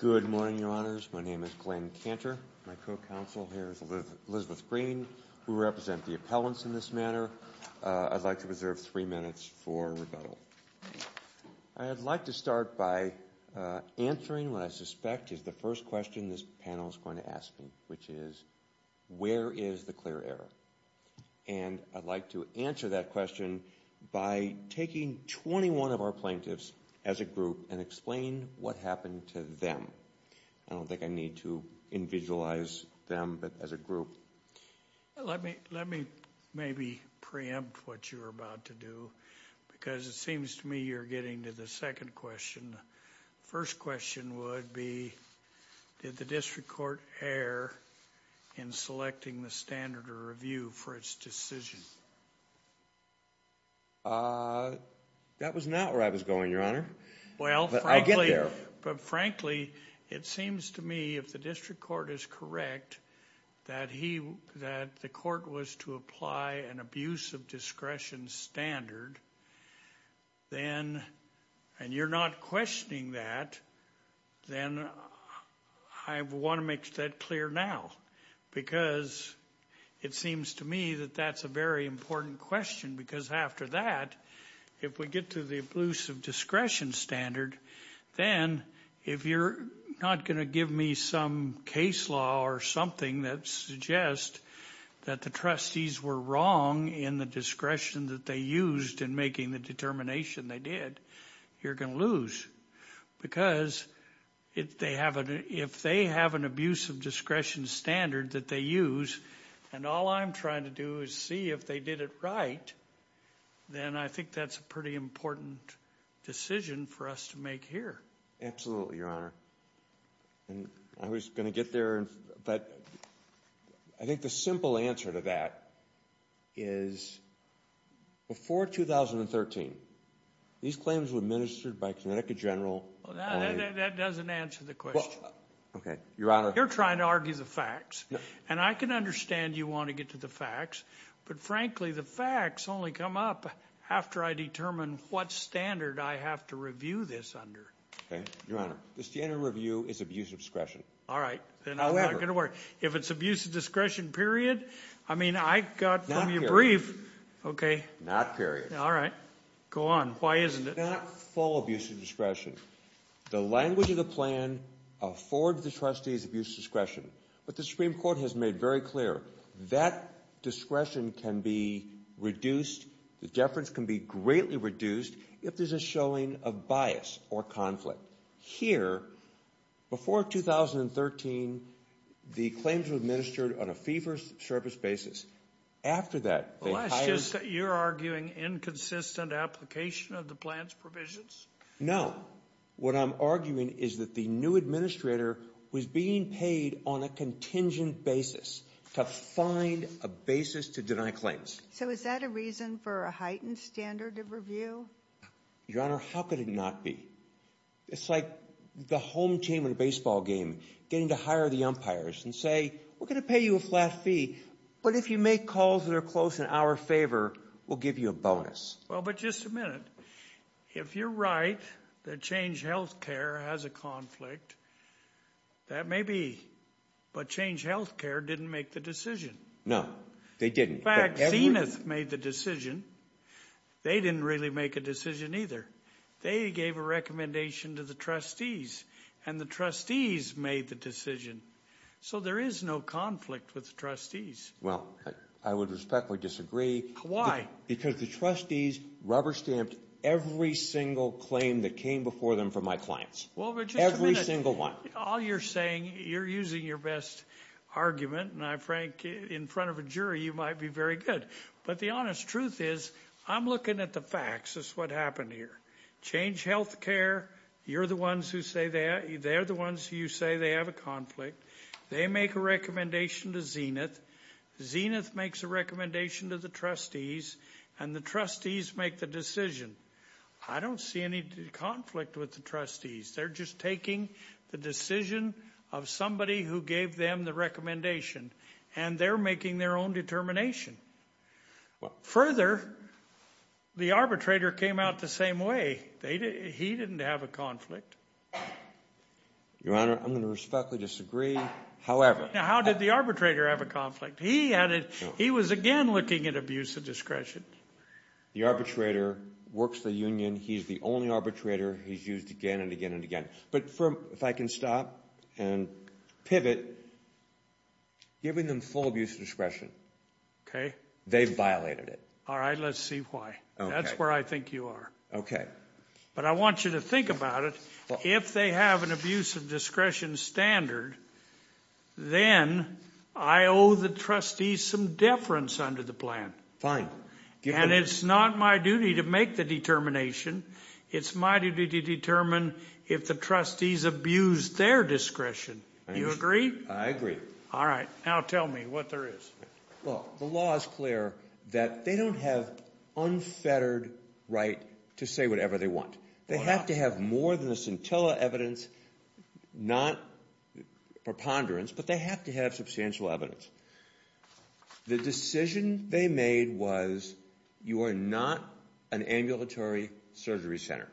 Good morning, Your Honors. My name is Glenn Cantor. My co-counsel here is Elizabeth Green. We represent the appellants in this manner. I'd like to reserve three minutes for rebuttal. I'd like to start by answering what I suspect is the first question this panel is going to ask me, which is, where is the clear error? And I'd like to answer that question by taking 21 of our plaintiffs as a group and explain what happened to them. I don't think I need to individualize them as a group. Let me maybe preempt what you're about to do, because it seems to me you're getting to the second question. The first question would be, did the district court err in selecting the standard of review for its decision? That was not where I was going, Your Honor, but I get there. Frankly, it seems to me if the district court is correct that the court was to apply an abuse of discretion standard, then, and you're not questioning that, then I want to make that clear now, because it seems to me that that's a very important question, because after that, if we get to the abuse of discretion standard, then if you're not going to give me some case law or something that suggests that the trustees were wrong in the discretion that they used in making the determination they did, you're going to lose, because if they have an abuse of discretion standard that they use, and all I'm trying to do is see if they did it right, then I think that's a pretty important decision for us to make here. Absolutely, Your Honor. I was going to get there, but I think the simple answer to that is before 2013, these claims were administered by Connecticut General. That doesn't answer the question. Okay, Your Honor. You're trying to argue the facts, and I can understand you want to get to the facts, but frankly, the facts only come up after I determine what standard I have to review this under. Okay, Your Honor, the standard review is abuse of discretion. All right, then I'm not going to worry. If it's abuse of discretion period, I mean, I got from your brief, okay. Not period. All right, go on. Why isn't it? It's not full abuse of discretion. The language of the plan affords the trustees abuse of discretion, but the Supreme Court has made very clear that discretion can be reduced, the deference can be greatly reduced if there's a showing of bias or conflict. Here, before 2013, the claims were administered on a fee-for-service basis. After that, they hired... Well, that's just that you're arguing inconsistent application of the plan's provisions? No. What I'm arguing is that the new administrator was being paid on a contingent basis to find a basis to deny claims. So is that a reason for a heightened standard of review? Your Honor, how could it not be? It's like the home team in a baseball game getting to hire the umpires and say, we're going to pay you a flat fee, but if you make calls that are close in our favor, we'll give you a bonus. Well, but just a minute. If you're right that Change Healthcare has a conflict, that may be, but Change Healthcare didn't make the decision. No, they didn't. In fact, Zenith made the decision. They didn't really make a decision either. They gave a recommendation to the trustees and the trustees made the decision. So there is no conflict with the trustees. Well, I would respectfully disagree. Why? Because the trustees rubber-stamped every single claim that came before them from my clients. Every single one. All you're saying, you're using your best argument, and I'm frank, in front of a jury, you might be very good. But the honest truth is, I'm looking at the facts as to what happened here. Change Healthcare, you're the ones who say, they're the ones who say they have a conflict. They make a recommendation to Zenith. Zenith makes a recommendation to the trustees, and the trustees make the decision. I don't see any conflict with the trustees. They're just taking the decision of somebody who gave them the recommendation, and they're making their own determination. Further, the arbitrator came out the same way. He didn't have a conflict. Your Honor, I'm going to respectfully disagree. Now, how did the arbitrator have a conflict? He was again looking at abuse of discretion. The arbitrator works the union, he's the only arbitrator, he's used again and again and again. But if I can stop and pivot, giving them full abuse of discretion, they've violated it. All right, let's see why. That's where I think you are. Okay. But I want you to think about it. If they have an abuse of discretion standard, then I owe the trustees some deference under the plan. Fine. And it's not my duty to make the determination. It's my duty to determine if the trustees abused their discretion. You agree? I agree. All right. Now tell me what there is. Well, the law is clear that they don't have unfettered right to say whatever they want. They have to have more than the scintilla evidence, not preponderance, but they have to have substantial evidence. The decision they made was you are not an ambulatory surgery center.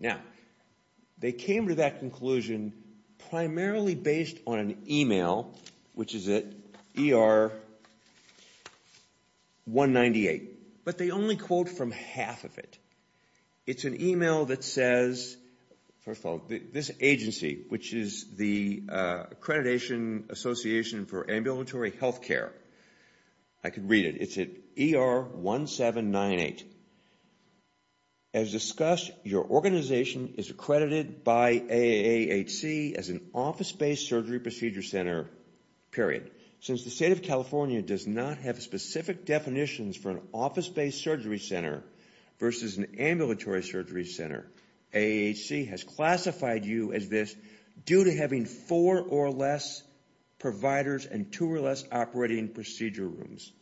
Now, they came to that conclusion primarily based on an email, which is at ER-198. But they only quote from half of it. It's an email that says, first of all, this agency, which is the Accreditation Association for Ambulatory Healthcare. I can read it. It's at ER-1798. As discussed, your organization is accredited by AAHC as an office-based surgery procedure center, period. Since the state of California does not have specific definitions for an office-based surgery center versus an ambulatory surgery center, AAHC has classified you as this due to having four or less providers and two or less operating procedure rooms.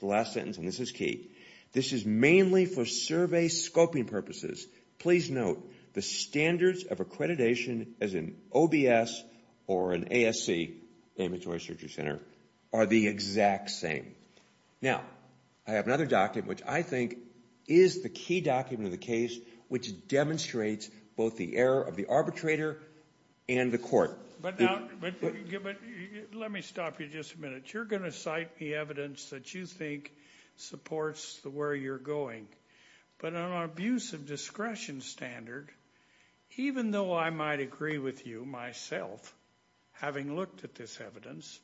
The last sentence, and this is key. This is mainly for survey scoping purposes. Please note, the standards of accreditation as an OBS or an ASC, ambulatory surgery center, are the exact same. Now, I have another document, which I think is the key document of the case, which demonstrates both the error of the arbitrator and the court. Let me stop you just a minute. You're going to cite the evidence that you think supports where you're going. But on our abuse of discretion standard, even though I might agree with you myself, having looked at this evidence,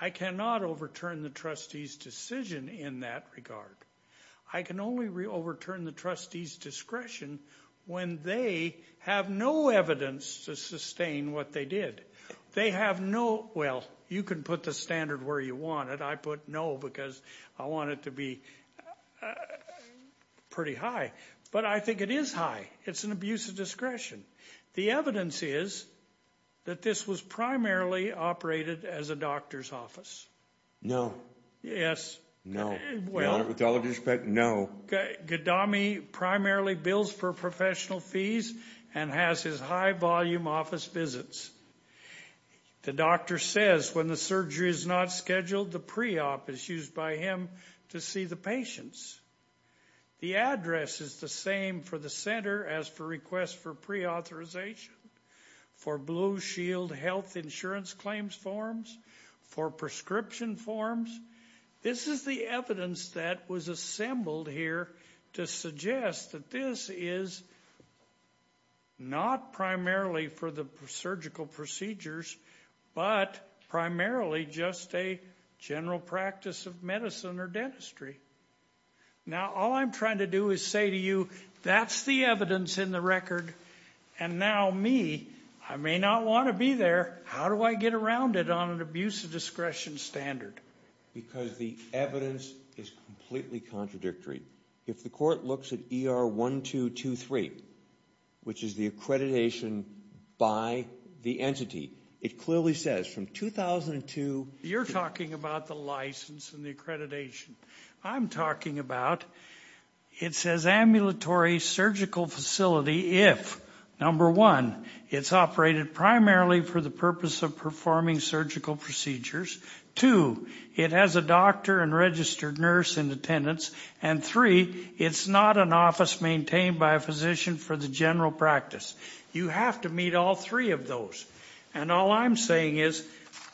I cannot overturn the trustee's decision in that regard. I can only overturn the trustee's discretion when they have no evidence to sustain what they did. They have no, well, you can put the standard where you want it. I put no because I want it to be pretty high. But I think it is high. It's an abuse of discretion. The evidence is that this was primarily operated as a doctor's office. No. Yes. Well. With all due respect, no. Gaddami primarily bills for professional fees and has his high-volume office visits. The doctor says when the surgery is not scheduled, the pre-op is used by him to see the patients. The address is the same for the center as for request for pre-authorization. For Blue Shield health insurance claims forms, for prescription forms. This is the evidence that was assembled here to suggest that this is not primarily for the surgical procedures, but primarily just a general practice of medicine or dentistry. Now, all I'm trying to do is say to you, that's the evidence in the record. And now me, I may not want to be there. How do I get around it on an abuse of discretion standard? Because the evidence is completely contradictory. If the court looks at ER 1223, which is the accreditation by the entity, it clearly says from 2002. You're talking about the license and the accreditation. I'm talking about, it says ambulatory surgical facility if, number one, it's operated primarily for the purpose of performing surgical procedures. Two, it has a doctor and registered nurse in attendance. And three, it's not an office maintained by a physician for the general practice. You have to meet all three of those. And all I'm saying is,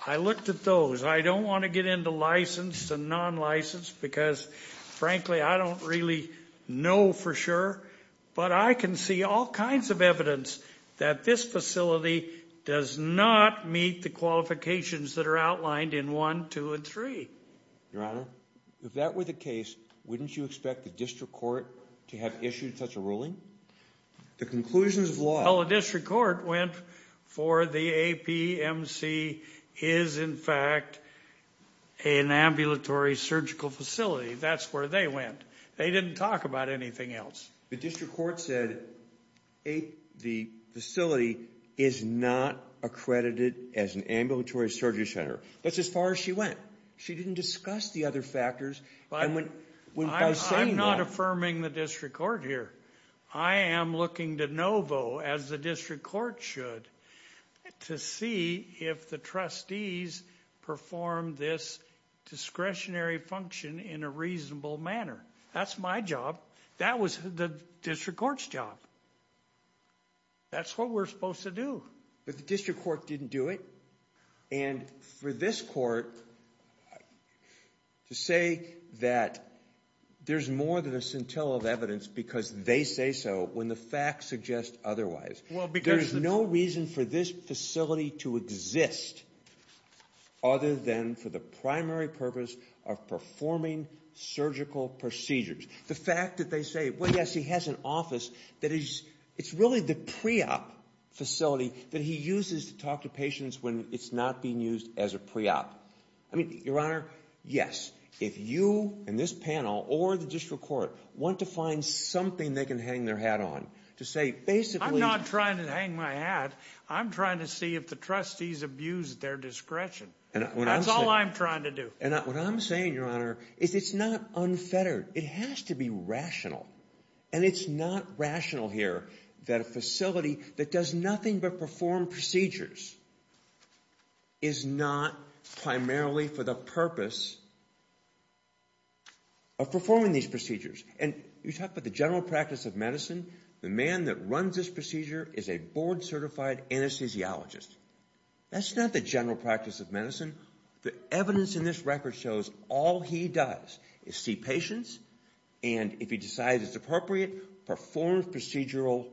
I looked at those. I don't want to get into licensed and non-licensed because frankly, I don't really know for sure. But I can see all kinds of evidence that this facility does not meet the qualifications that are outlined in one, two, and three. Your Honor, if that were the case, wouldn't you expect the district court to have issued such a ruling? The conclusions of law. Well, the district court went for the APMC is in fact an ambulatory surgical facility. That's where they went. They didn't talk about anything else. The district court said the facility is not accredited as an ambulatory surgery center. That's as far as she went. She didn't discuss the other factors. I'm not affirming the district court here. I am looking to Novo, as the district court should, to see if the trustees perform this discretionary function in a reasonable manner. That's my job. That was the district court's job. That's what we're supposed to do. But the district court didn't do it. And for this court to say that there's more than a scintilla of evidence because they say so when the facts suggest otherwise. There is no reason for this facility to exist other than for the primary purpose of performing surgical procedures. The fact that they say, well, yes, he has an office that is, it's really the pre-op facility that he uses to talk to patients when it's not being used as a pre-op. I mean, your honor, yes, if you and this panel or the district court want to find something they can hang their hat on to say basically. I'm not trying to hang my hat. I'm trying to see if the trustees abused their discretion. That's all I'm trying to do. And what I'm saying, your honor, is it's not unfettered. It has to be rational. And it's not rational here that a facility that does nothing but perform procedures is not primarily for the purpose of performing these procedures. And you talk about the general practice of medicine. The man that runs this procedure is a board-certified anesthesiologist. That's not the general practice of medicine. The evidence in this record shows all he does is see patients. And if he decides it's appropriate, performs procedural,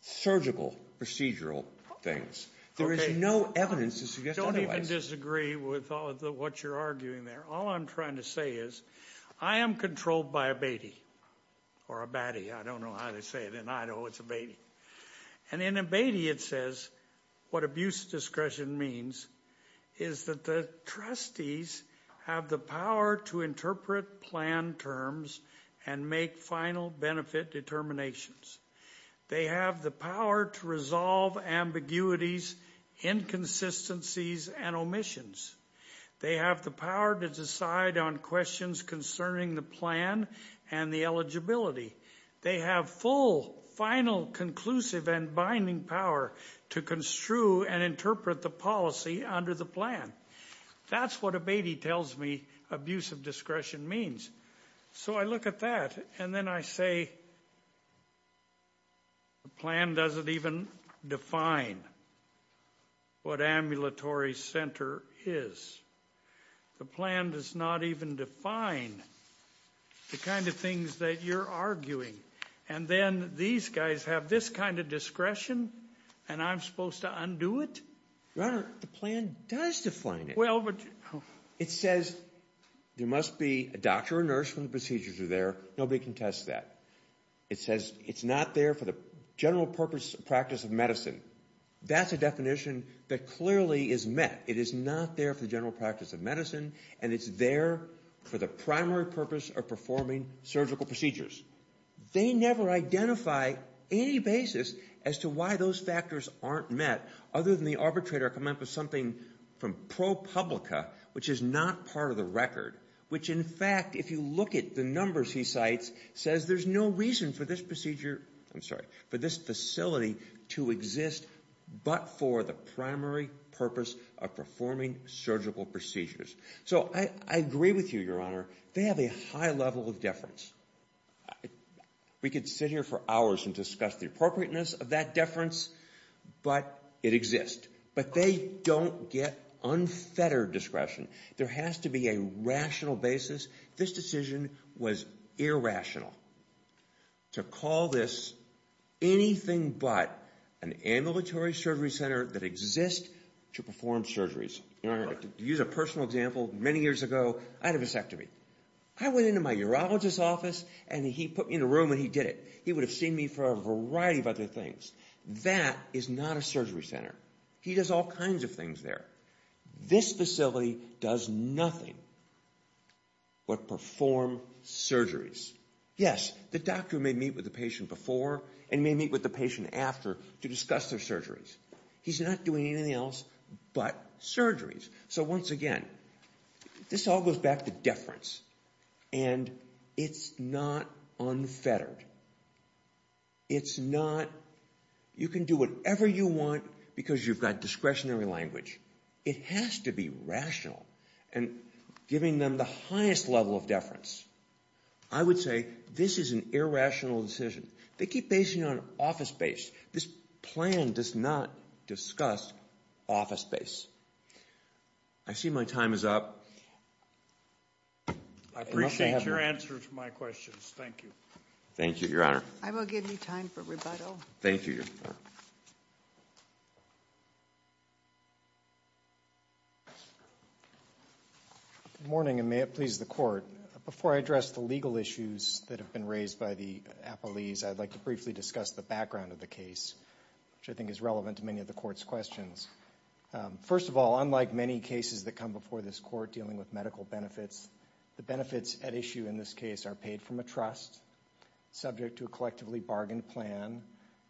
surgical procedural things. There is no evidence to suggest otherwise. Don't even disagree with all of what you're arguing there. All I'm trying to say is I am controlled by a Beatty or a Batty. I don't know how to say it. And I know it's a Beatty. And in a Beatty, it says what abuse discretion means is that the trustees have the power to interpret plan terms and make final benefit determinations. They have the power to resolve ambiguities, inconsistencies, and omissions. They have the power to decide on questions concerning the plan and the eligibility. They have full, final, conclusive, and binding power to construe and interpret the policy under the plan. That's what a Beatty tells me abuse of discretion means. So I look at that and then I say the plan doesn't even define what ambulatory center is. The plan does not even define the kind of things that you're arguing. And then these guys have this kind of discretion and I'm supposed to undo it? Your Honor, the plan does define it. Well, but. It says there must be a doctor or nurse when the procedures are there. Nobody can test that. It says it's not there for the general purpose of practice of medicine. That's a definition that clearly is met. It is not there for the general practice of medicine and it's there for the primary purpose of performing surgical procedures. They never identify any basis as to why those factors aren't met other than the arbitrator coming up with something from ProPublica, which is not part of the record. Which in fact, if you look at the numbers he cites, says there's no reason for this procedure, I'm sorry, for this facility to exist but for the primary purpose of performing surgical procedures. So I agree with you, Your Honor. They have a high level of deference. We could sit here for hours and discuss the appropriateness of that deference, but it exists. But they don't get unfettered discretion. There has to be a rational basis. This decision was irrational. To call this anything but an ambulatory surgery center that exists to perform surgeries. Your Honor, to use a personal example, many years ago, I had a vasectomy. I went into my urologist's office and he put me in a room and he did it. He would have seen me for a variety of other things. That is not a surgery center. He does all kinds of things there. This facility does nothing but perform surgeries. Yes, the doctor may meet with the patient before and may meet with the patient after to discuss their surgeries. He's not doing anything else but surgeries. So once again, this all goes back to deference and it's not unfettered. It's not, you can do whatever you want because you've got discretionary language. It has to be rational and giving them the highest level of deference. I would say this is an irrational decision. They keep basing it on office space. This plan does not discuss office space. I see my time is up. I appreciate your answer to my questions. Thank you. Thank you, Your Honor. I will give you time for rebuttal. Thank you, Your Honor. Good morning and may it please the Court. Before I address the legal issues that have been raised by the appellees, I'd like to briefly discuss the background of the case, which I think is relevant to many of the Court's questions. First of all, unlike many cases that come before this Court dealing with medical benefits, the benefits at issue in this case are paid from a trust subject to a collectively bargained plan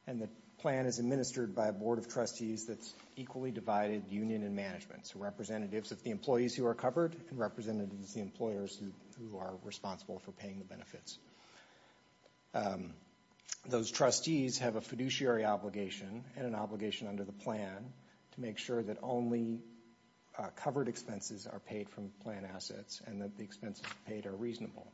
and the plan is administered by a board of trustees that's equally divided union and management, so representatives of the employees who are covered and representatives of the employers who are responsible for paying the benefits. Those trustees have a fiduciary obligation and an obligation under the plan to make sure that only covered expenses are paid from plan assets and that the expenses paid are reasonable.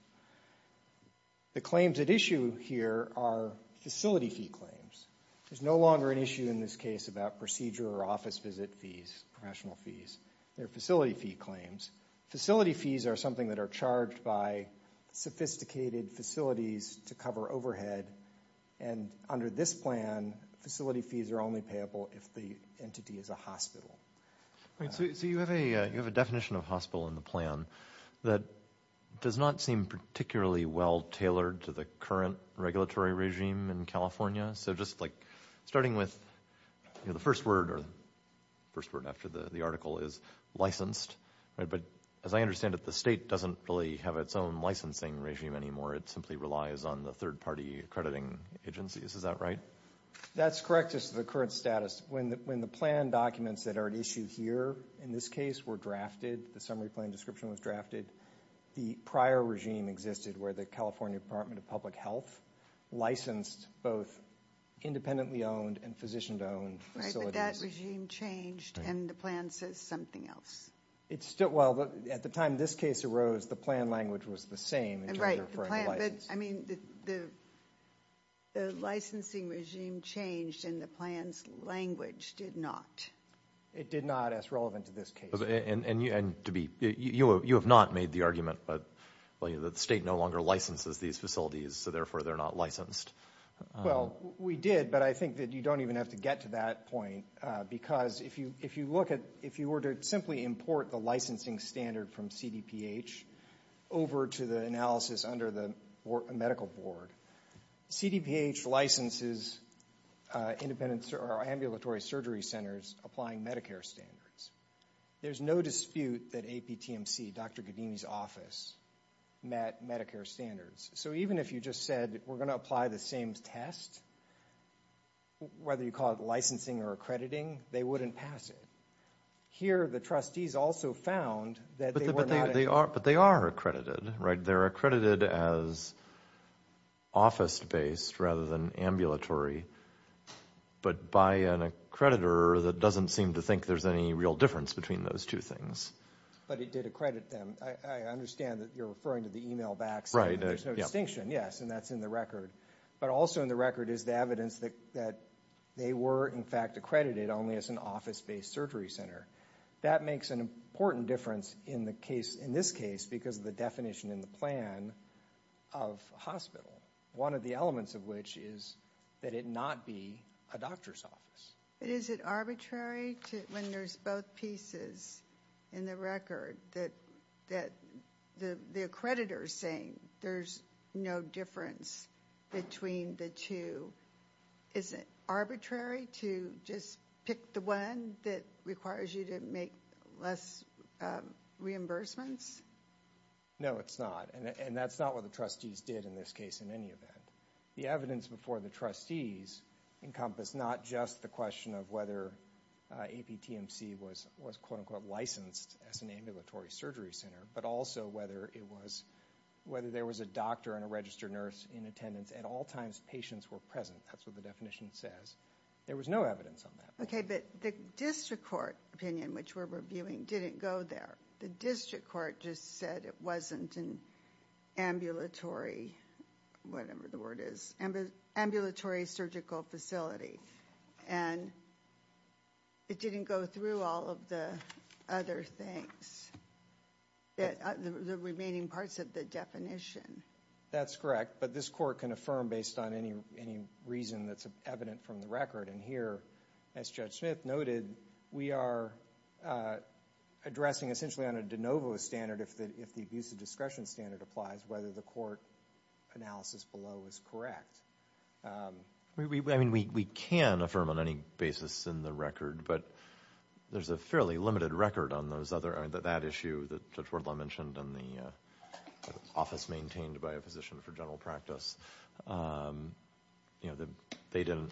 The claims at issue here are facility fee claims. There's no longer an issue in this case about procedure or office visit fees, professional fees. They're facility fee claims. Facility fees are something that are charged by sophisticated facilities to cover overhead and under this plan, facility fees are only payable if the entity is a hospital. So you have a definition of hospital in the plan that does not seem particularly well tailored to the current regulatory regime in California. So just like starting with the first word or first word after the article is licensed, but as I understand it, the state doesn't really have its own licensing regime anymore. It simply relies on the third party accrediting agencies. Is that right? That's correct as to the current status. When the plan documents that are at issue here in this case were drafted, the summary plan description was drafted, the prior regime existed where the California Department of Public Health licensed both independently owned and physician owned facilities. Right, but that regime changed and the plan says something else. It's still, well, at the time this case arose, the plan language was the same. Right, the plan, but I mean the licensing regime changed and the plan's language did not. It did not as relevant to this case. And to be, you have not made the argument that the state no longer licenses these facilities, so therefore they're not licensed. Well, we did, but I think that you don't even have to get to that point because if you look at, if you were to simply import the licensing standard from CDPH over to the analysis under the medical board, CDPH licenses ambulatory surgery centers applying Medicare standards. There's no dispute that APTMC, Dr. Gaddini's office met Medicare standards. So even if you just said we're going to apply the same test, whether you call it licensing or accrediting, they wouldn't pass it. Here the trustees also found that they were not. They are, but they are accredited. Right, they're accredited as office based rather than ambulatory, but by an accreditor that doesn't seem to think there's any real difference between those two things. But it did accredit them. I understand that you're referring to the email backs. Right. There's no distinction, yes, and that's in the record. But also in the record is the evidence that they were, in fact, accredited only as an office based surgery center. That makes an important difference in the case, in this case, because of the definition in the plan of hospital. One of the elements of which is that it not be a doctor's office. But is it arbitrary when there's both pieces in the record that the accreditor is saying there's no difference between the two? Is it arbitrary to just pick the one that requires you to make less reimbursements? No, it's not, and that's not what the trustees did in this case in any event. The evidence before the trustees encompassed not just the question of whether APTMC was quote unquote licensed as an ambulatory surgery center, but also whether there was a doctor and a registered nurse in attendance at all times patients were present. That's what the definition says. There was no evidence on that. Okay, but the district court opinion, which we're reviewing, didn't go there. The district court just said it wasn't an ambulatory, whatever the word is, ambulatory surgical facility, and it didn't go through all of the other things, the remaining parts of the definition. That's correct, but this court can affirm based on any reason that's evident from the record, and here, as Judge Smith noted, we are addressing essentially on a de novo standard if the abuse of discretion standard applies, whether the court analysis below is correct. I mean, we can affirm on any basis in the record, but there's a fairly limited record on those other, that issue that Judge Wardlaw mentioned in the office maintained by a physician for general practice, you know, they didn't,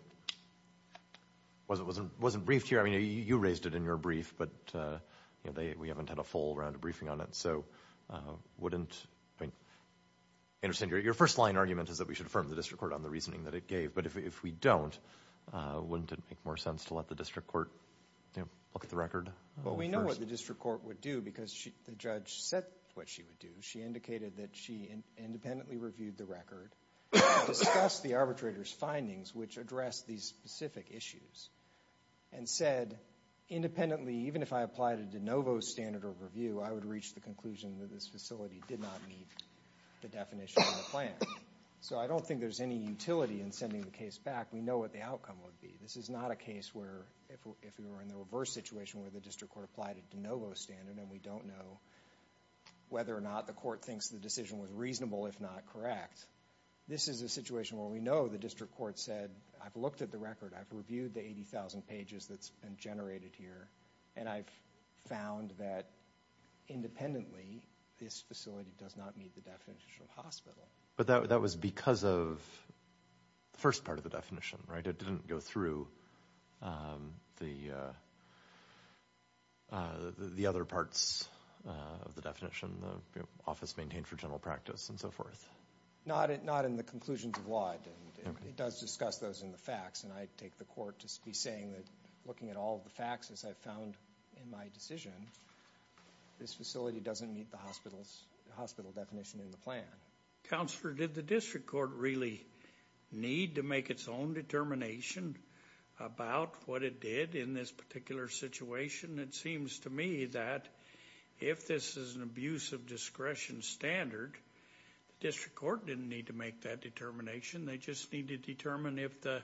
wasn't briefed here. I mean, you raised it in your brief, but, you know, we haven't had a full round of briefing on it, so wouldn't, I mean, your first line argument is that we should affirm the district court on the reasoning that it gave, but if we don't, wouldn't it make more sense to let the district court, you know, look at the record? Well, we know what the district court would do because the judge said what she would do. She indicated that she independently reviewed the record, discussed the arbitrator's findings, which addressed these specific issues, and said independently, even if I applied a de novo standard or review, I would reach the conclusion that this facility did not meet the definition of the plan, so I don't think there's any utility in sending the case back. We know what the outcome would be. This is not a case where, if we were in the reverse situation where the district court applied a de novo standard and we don't know whether or not the court thinks the decision was reasonable, if not correct. This is a situation where we know the district court said, I've looked at the record. I've reviewed the 80,000 pages that's been generated here, and I've found that independently, this facility does not meet the definition of hospital. But that was because of the first part of the definition, right? It didn't go through the other parts of the definition, the office maintained for general practice and so forth. Not in the conclusions of law, it does discuss those in the facts, and I take the court to be saying that looking at all the facts as I've found in my decision, this facility doesn't meet the hospital definition in the plan. Counselor, did the district court really need to make its own determination about what it did in this particular situation? It seems to me that if this is an abuse of discretion standard, the district court didn't need to make that determination. They just need to determine if the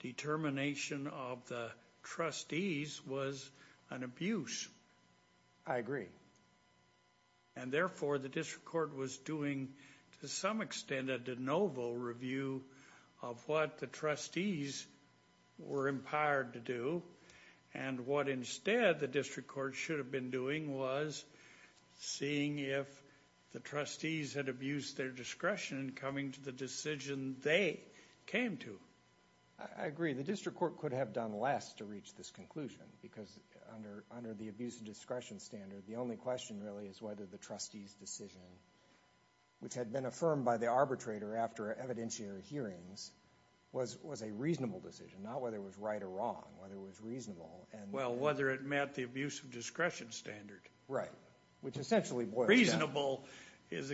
determination of the trustees was an abuse. I agree. And therefore, the district court was doing, to some extent, a de novo review of what the trustees were empowered to do. And what instead the district court should have been doing was seeing if the trustees had abused their discretion in coming to the decision they came to. I agree. The district court could have done less to reach this conclusion because under the abuse of discretion standard, the only question really is whether the trustees' decision, which had been affirmed by the arbitrator after evidentiary hearings, was a reasonable decision, not whether it was right or wrong, whether it was reasonable. Well, whether it met the abuse of discretion standard. Right. Which essentially boils down to... Reasonable is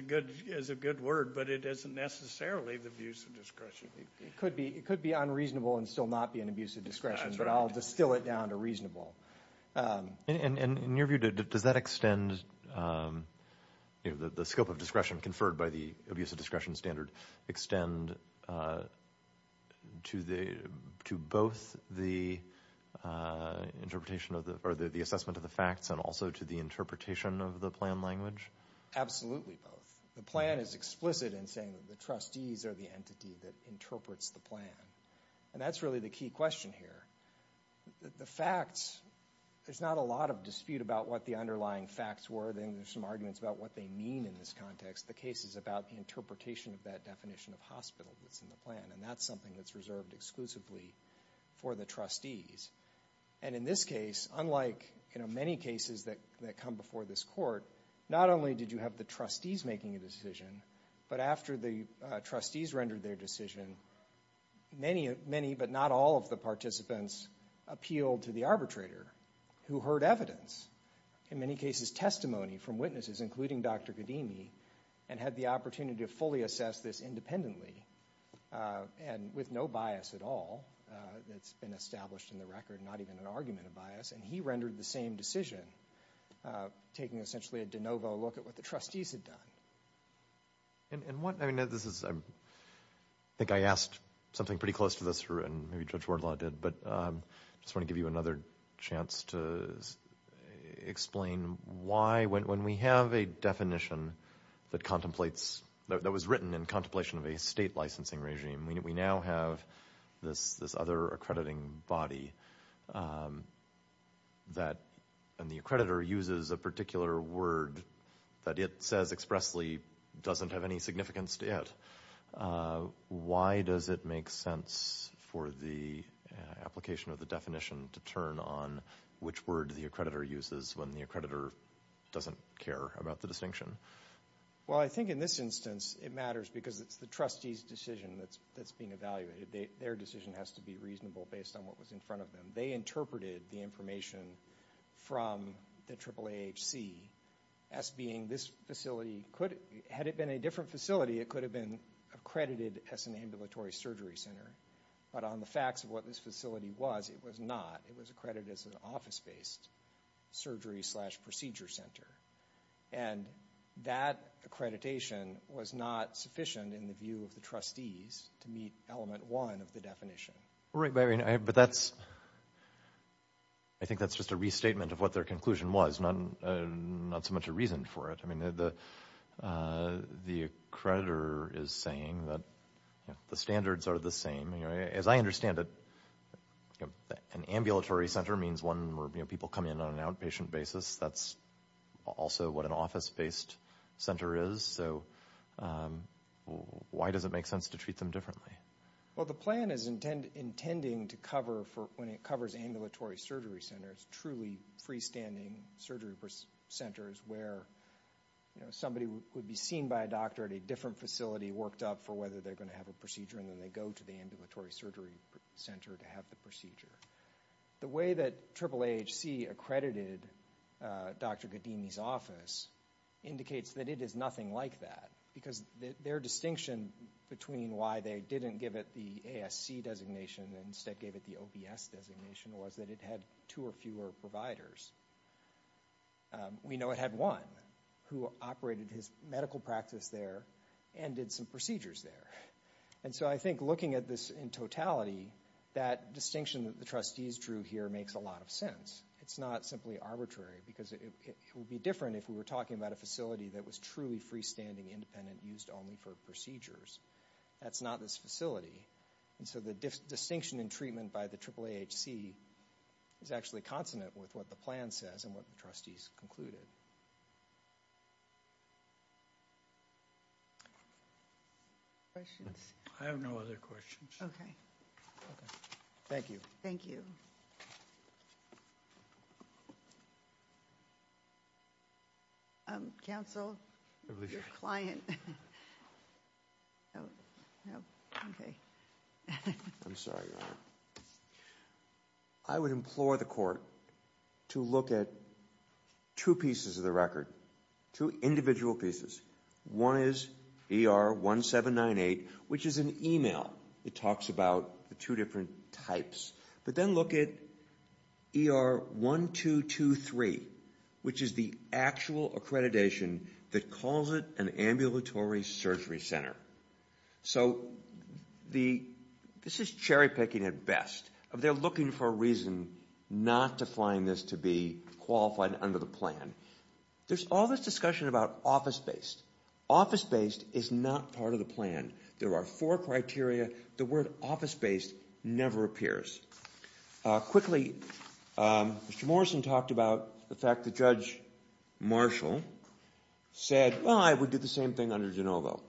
a good word, but it isn't necessarily the abuse of discretion. It could be unreasonable and still not be an abuse of discretion, but I'll distill it down to reasonable. And in your view, does that extend, you know, the scope of discretion conferred by the abuse of discretion standard extend to both the interpretation or the assessment of the facts and also to the interpretation of the plan language? Absolutely both. The plan is explicit in saying that the trustees are the entity that interprets the plan. And that's really the key question here. The facts, there's not a lot of dispute about what the underlying facts were. There's some arguments about what they mean in this context. The case is about the interpretation of that definition of hospital that's in the plan. And that's something that's reserved exclusively for the trustees. And in this case, unlike, you know, many cases that come before this court, not only did you have the trustees making a decision, but after the trustees rendered their decision, many but not all of the participants appealed to the arbitrator who heard evidence, in many cases testimony from witnesses, including Dr. Kadimi, and had the opportunity to fully assess this independently and with no bias at all that's been established in the record, not even an argument of bias. And he rendered the same decision taking essentially a de novo look at what the trustees had done. And what, I mean, this is, I think I asked something pretty close to this and maybe Judge Wardlaw did, but I just want to give you another chance to explain why, when we have a definition that contemplates, that was written in contemplation of a state licensing regime, we now have this other accrediting body that, and the accreditor uses a particular word that it says expressly doesn't have any significance to it. Why does it make sense for the application of the definition to turn on which word the accreditor uses when the accreditor doesn't care about the distinction? Well, I think in this instance it matters because it's the trustees' decision that's being evaluated. Their decision has to be reasonable based on what was in front of them. They interpreted the information from the AAAHC as being this facility could, had it been a different facility, it could have been accredited as an ambulatory surgery center. But on the facts of what this facility was, it was not. It was accredited as an office-based surgery slash procedure center. And that accreditation was not sufficient in the view of the trustees to meet element one of the definition. Right, but I mean, but that's, I think that's just a restatement of what their conclusion was, not so much a reason for it. I mean, the accreditor is saying that the standards are the same. You know, as I understand it, an ambulatory center means one where people come in on an outpatient basis. That's also what an office-based center is. So why does it make sense to treat them differently? Well, the plan is intending to cover for, when it covers ambulatory surgery centers, truly freestanding surgery centers where, you know, somebody would be seen by a doctor at a different facility, worked up for whether they're going to have a procedure, and then they go to the ambulatory surgery center to have the procedure. The way that AAAHC accredited Dr. Ghadimi's office indicates that it is nothing like that because their distinction between why they didn't give it the ASC designation and instead gave it the OBS designation was that it had two or fewer providers. We know it had one who operated his medical practice there and did some procedures there. And so I think looking at this in totality, that distinction that the trustees drew here makes a lot of sense. It's not simply arbitrary because it would be different if we were talking about a facility that was truly freestanding, independent, used only for procedures. That's not this facility. And so the distinction in treatment by the AAAHC is actually consonant with what the plan says and what the trustees concluded. Questions? I have no other questions. Okay. Okay. Thank you. Thank you. Counsel, your client. Oh, no, okay. I'm sorry, Your Honor. I would implore the court to look at two pieces of the record, two individual pieces. One is ER 1798, which is an email. It talks about the two different types. But then look at ER 1223, which is the actual accreditation that calls it an ambulatory surgery center. So the, this is cherry picking at best. They're looking for a reason not to find this to be qualified under the plan. There's all this discussion about office-based. Office-based is not part of the plan. There are four criteria. The word office-based never appears. Quickly, Mr. Morrison talked about the fact that Judge Marshall said, well, I would do the same thing under DeNovo.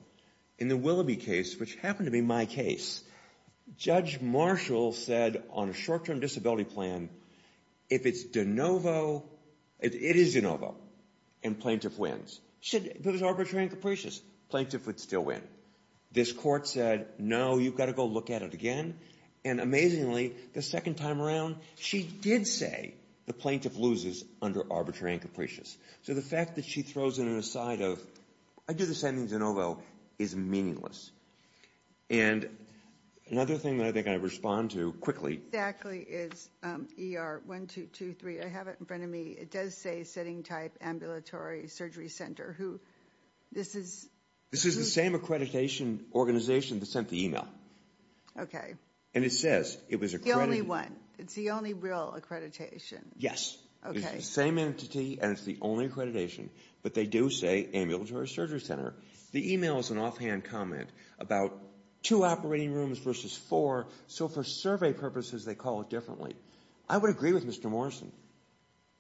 In the Willoughby case, which happened to be my case, Judge Marshall said on a short-term disability plan, if it's DeNovo, it is DeNovo, and plaintiff wins. Should, if it was arbitrary and capricious, plaintiff would still win. This court said, no, you've got to go look at it again. And amazingly, the second time around, she did say the plaintiff loses under arbitrary and capricious. So the fact that she throws it aside of, I'd do the same thing DeNovo, is meaningless. And another thing that I think I respond to quickly. What exactly is ER1223? I have it in front of me. It does say setting type ambulatory surgery center. Who, this is? This is the same accreditation organization that sent the email. Okay. And it says, it was accredited. The only one. It's the only real accreditation. Yes. Okay. It's the same entity, and it's the only accreditation, but they do say ambulatory surgery center. The email is an offhand comment about two operating rooms versus four. So for survey purposes, they call it differently. I would agree with Mr. Morrison.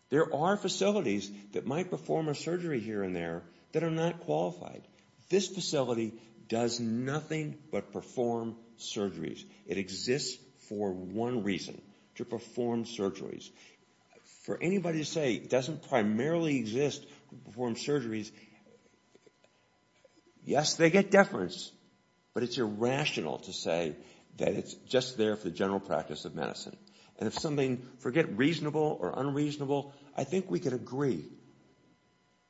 There are facilities that might perform a surgery here and there that are not qualified. This facility does nothing but perform surgeries. It exists for one reason, to perform surgeries. For anybody to say it doesn't primarily exist to perform surgeries, yes, they get deference, but it's irrational to say that it's just there for the general practice of medicine. And if something, forget reasonable or unreasonable, I think we can agree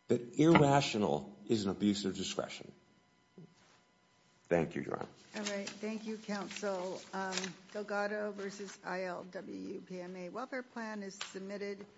that irrational is an abuse of discretion. Thank you, Joanne. All right, thank you, counsel. Delgado versus ILWPMA welfare plan is submitted.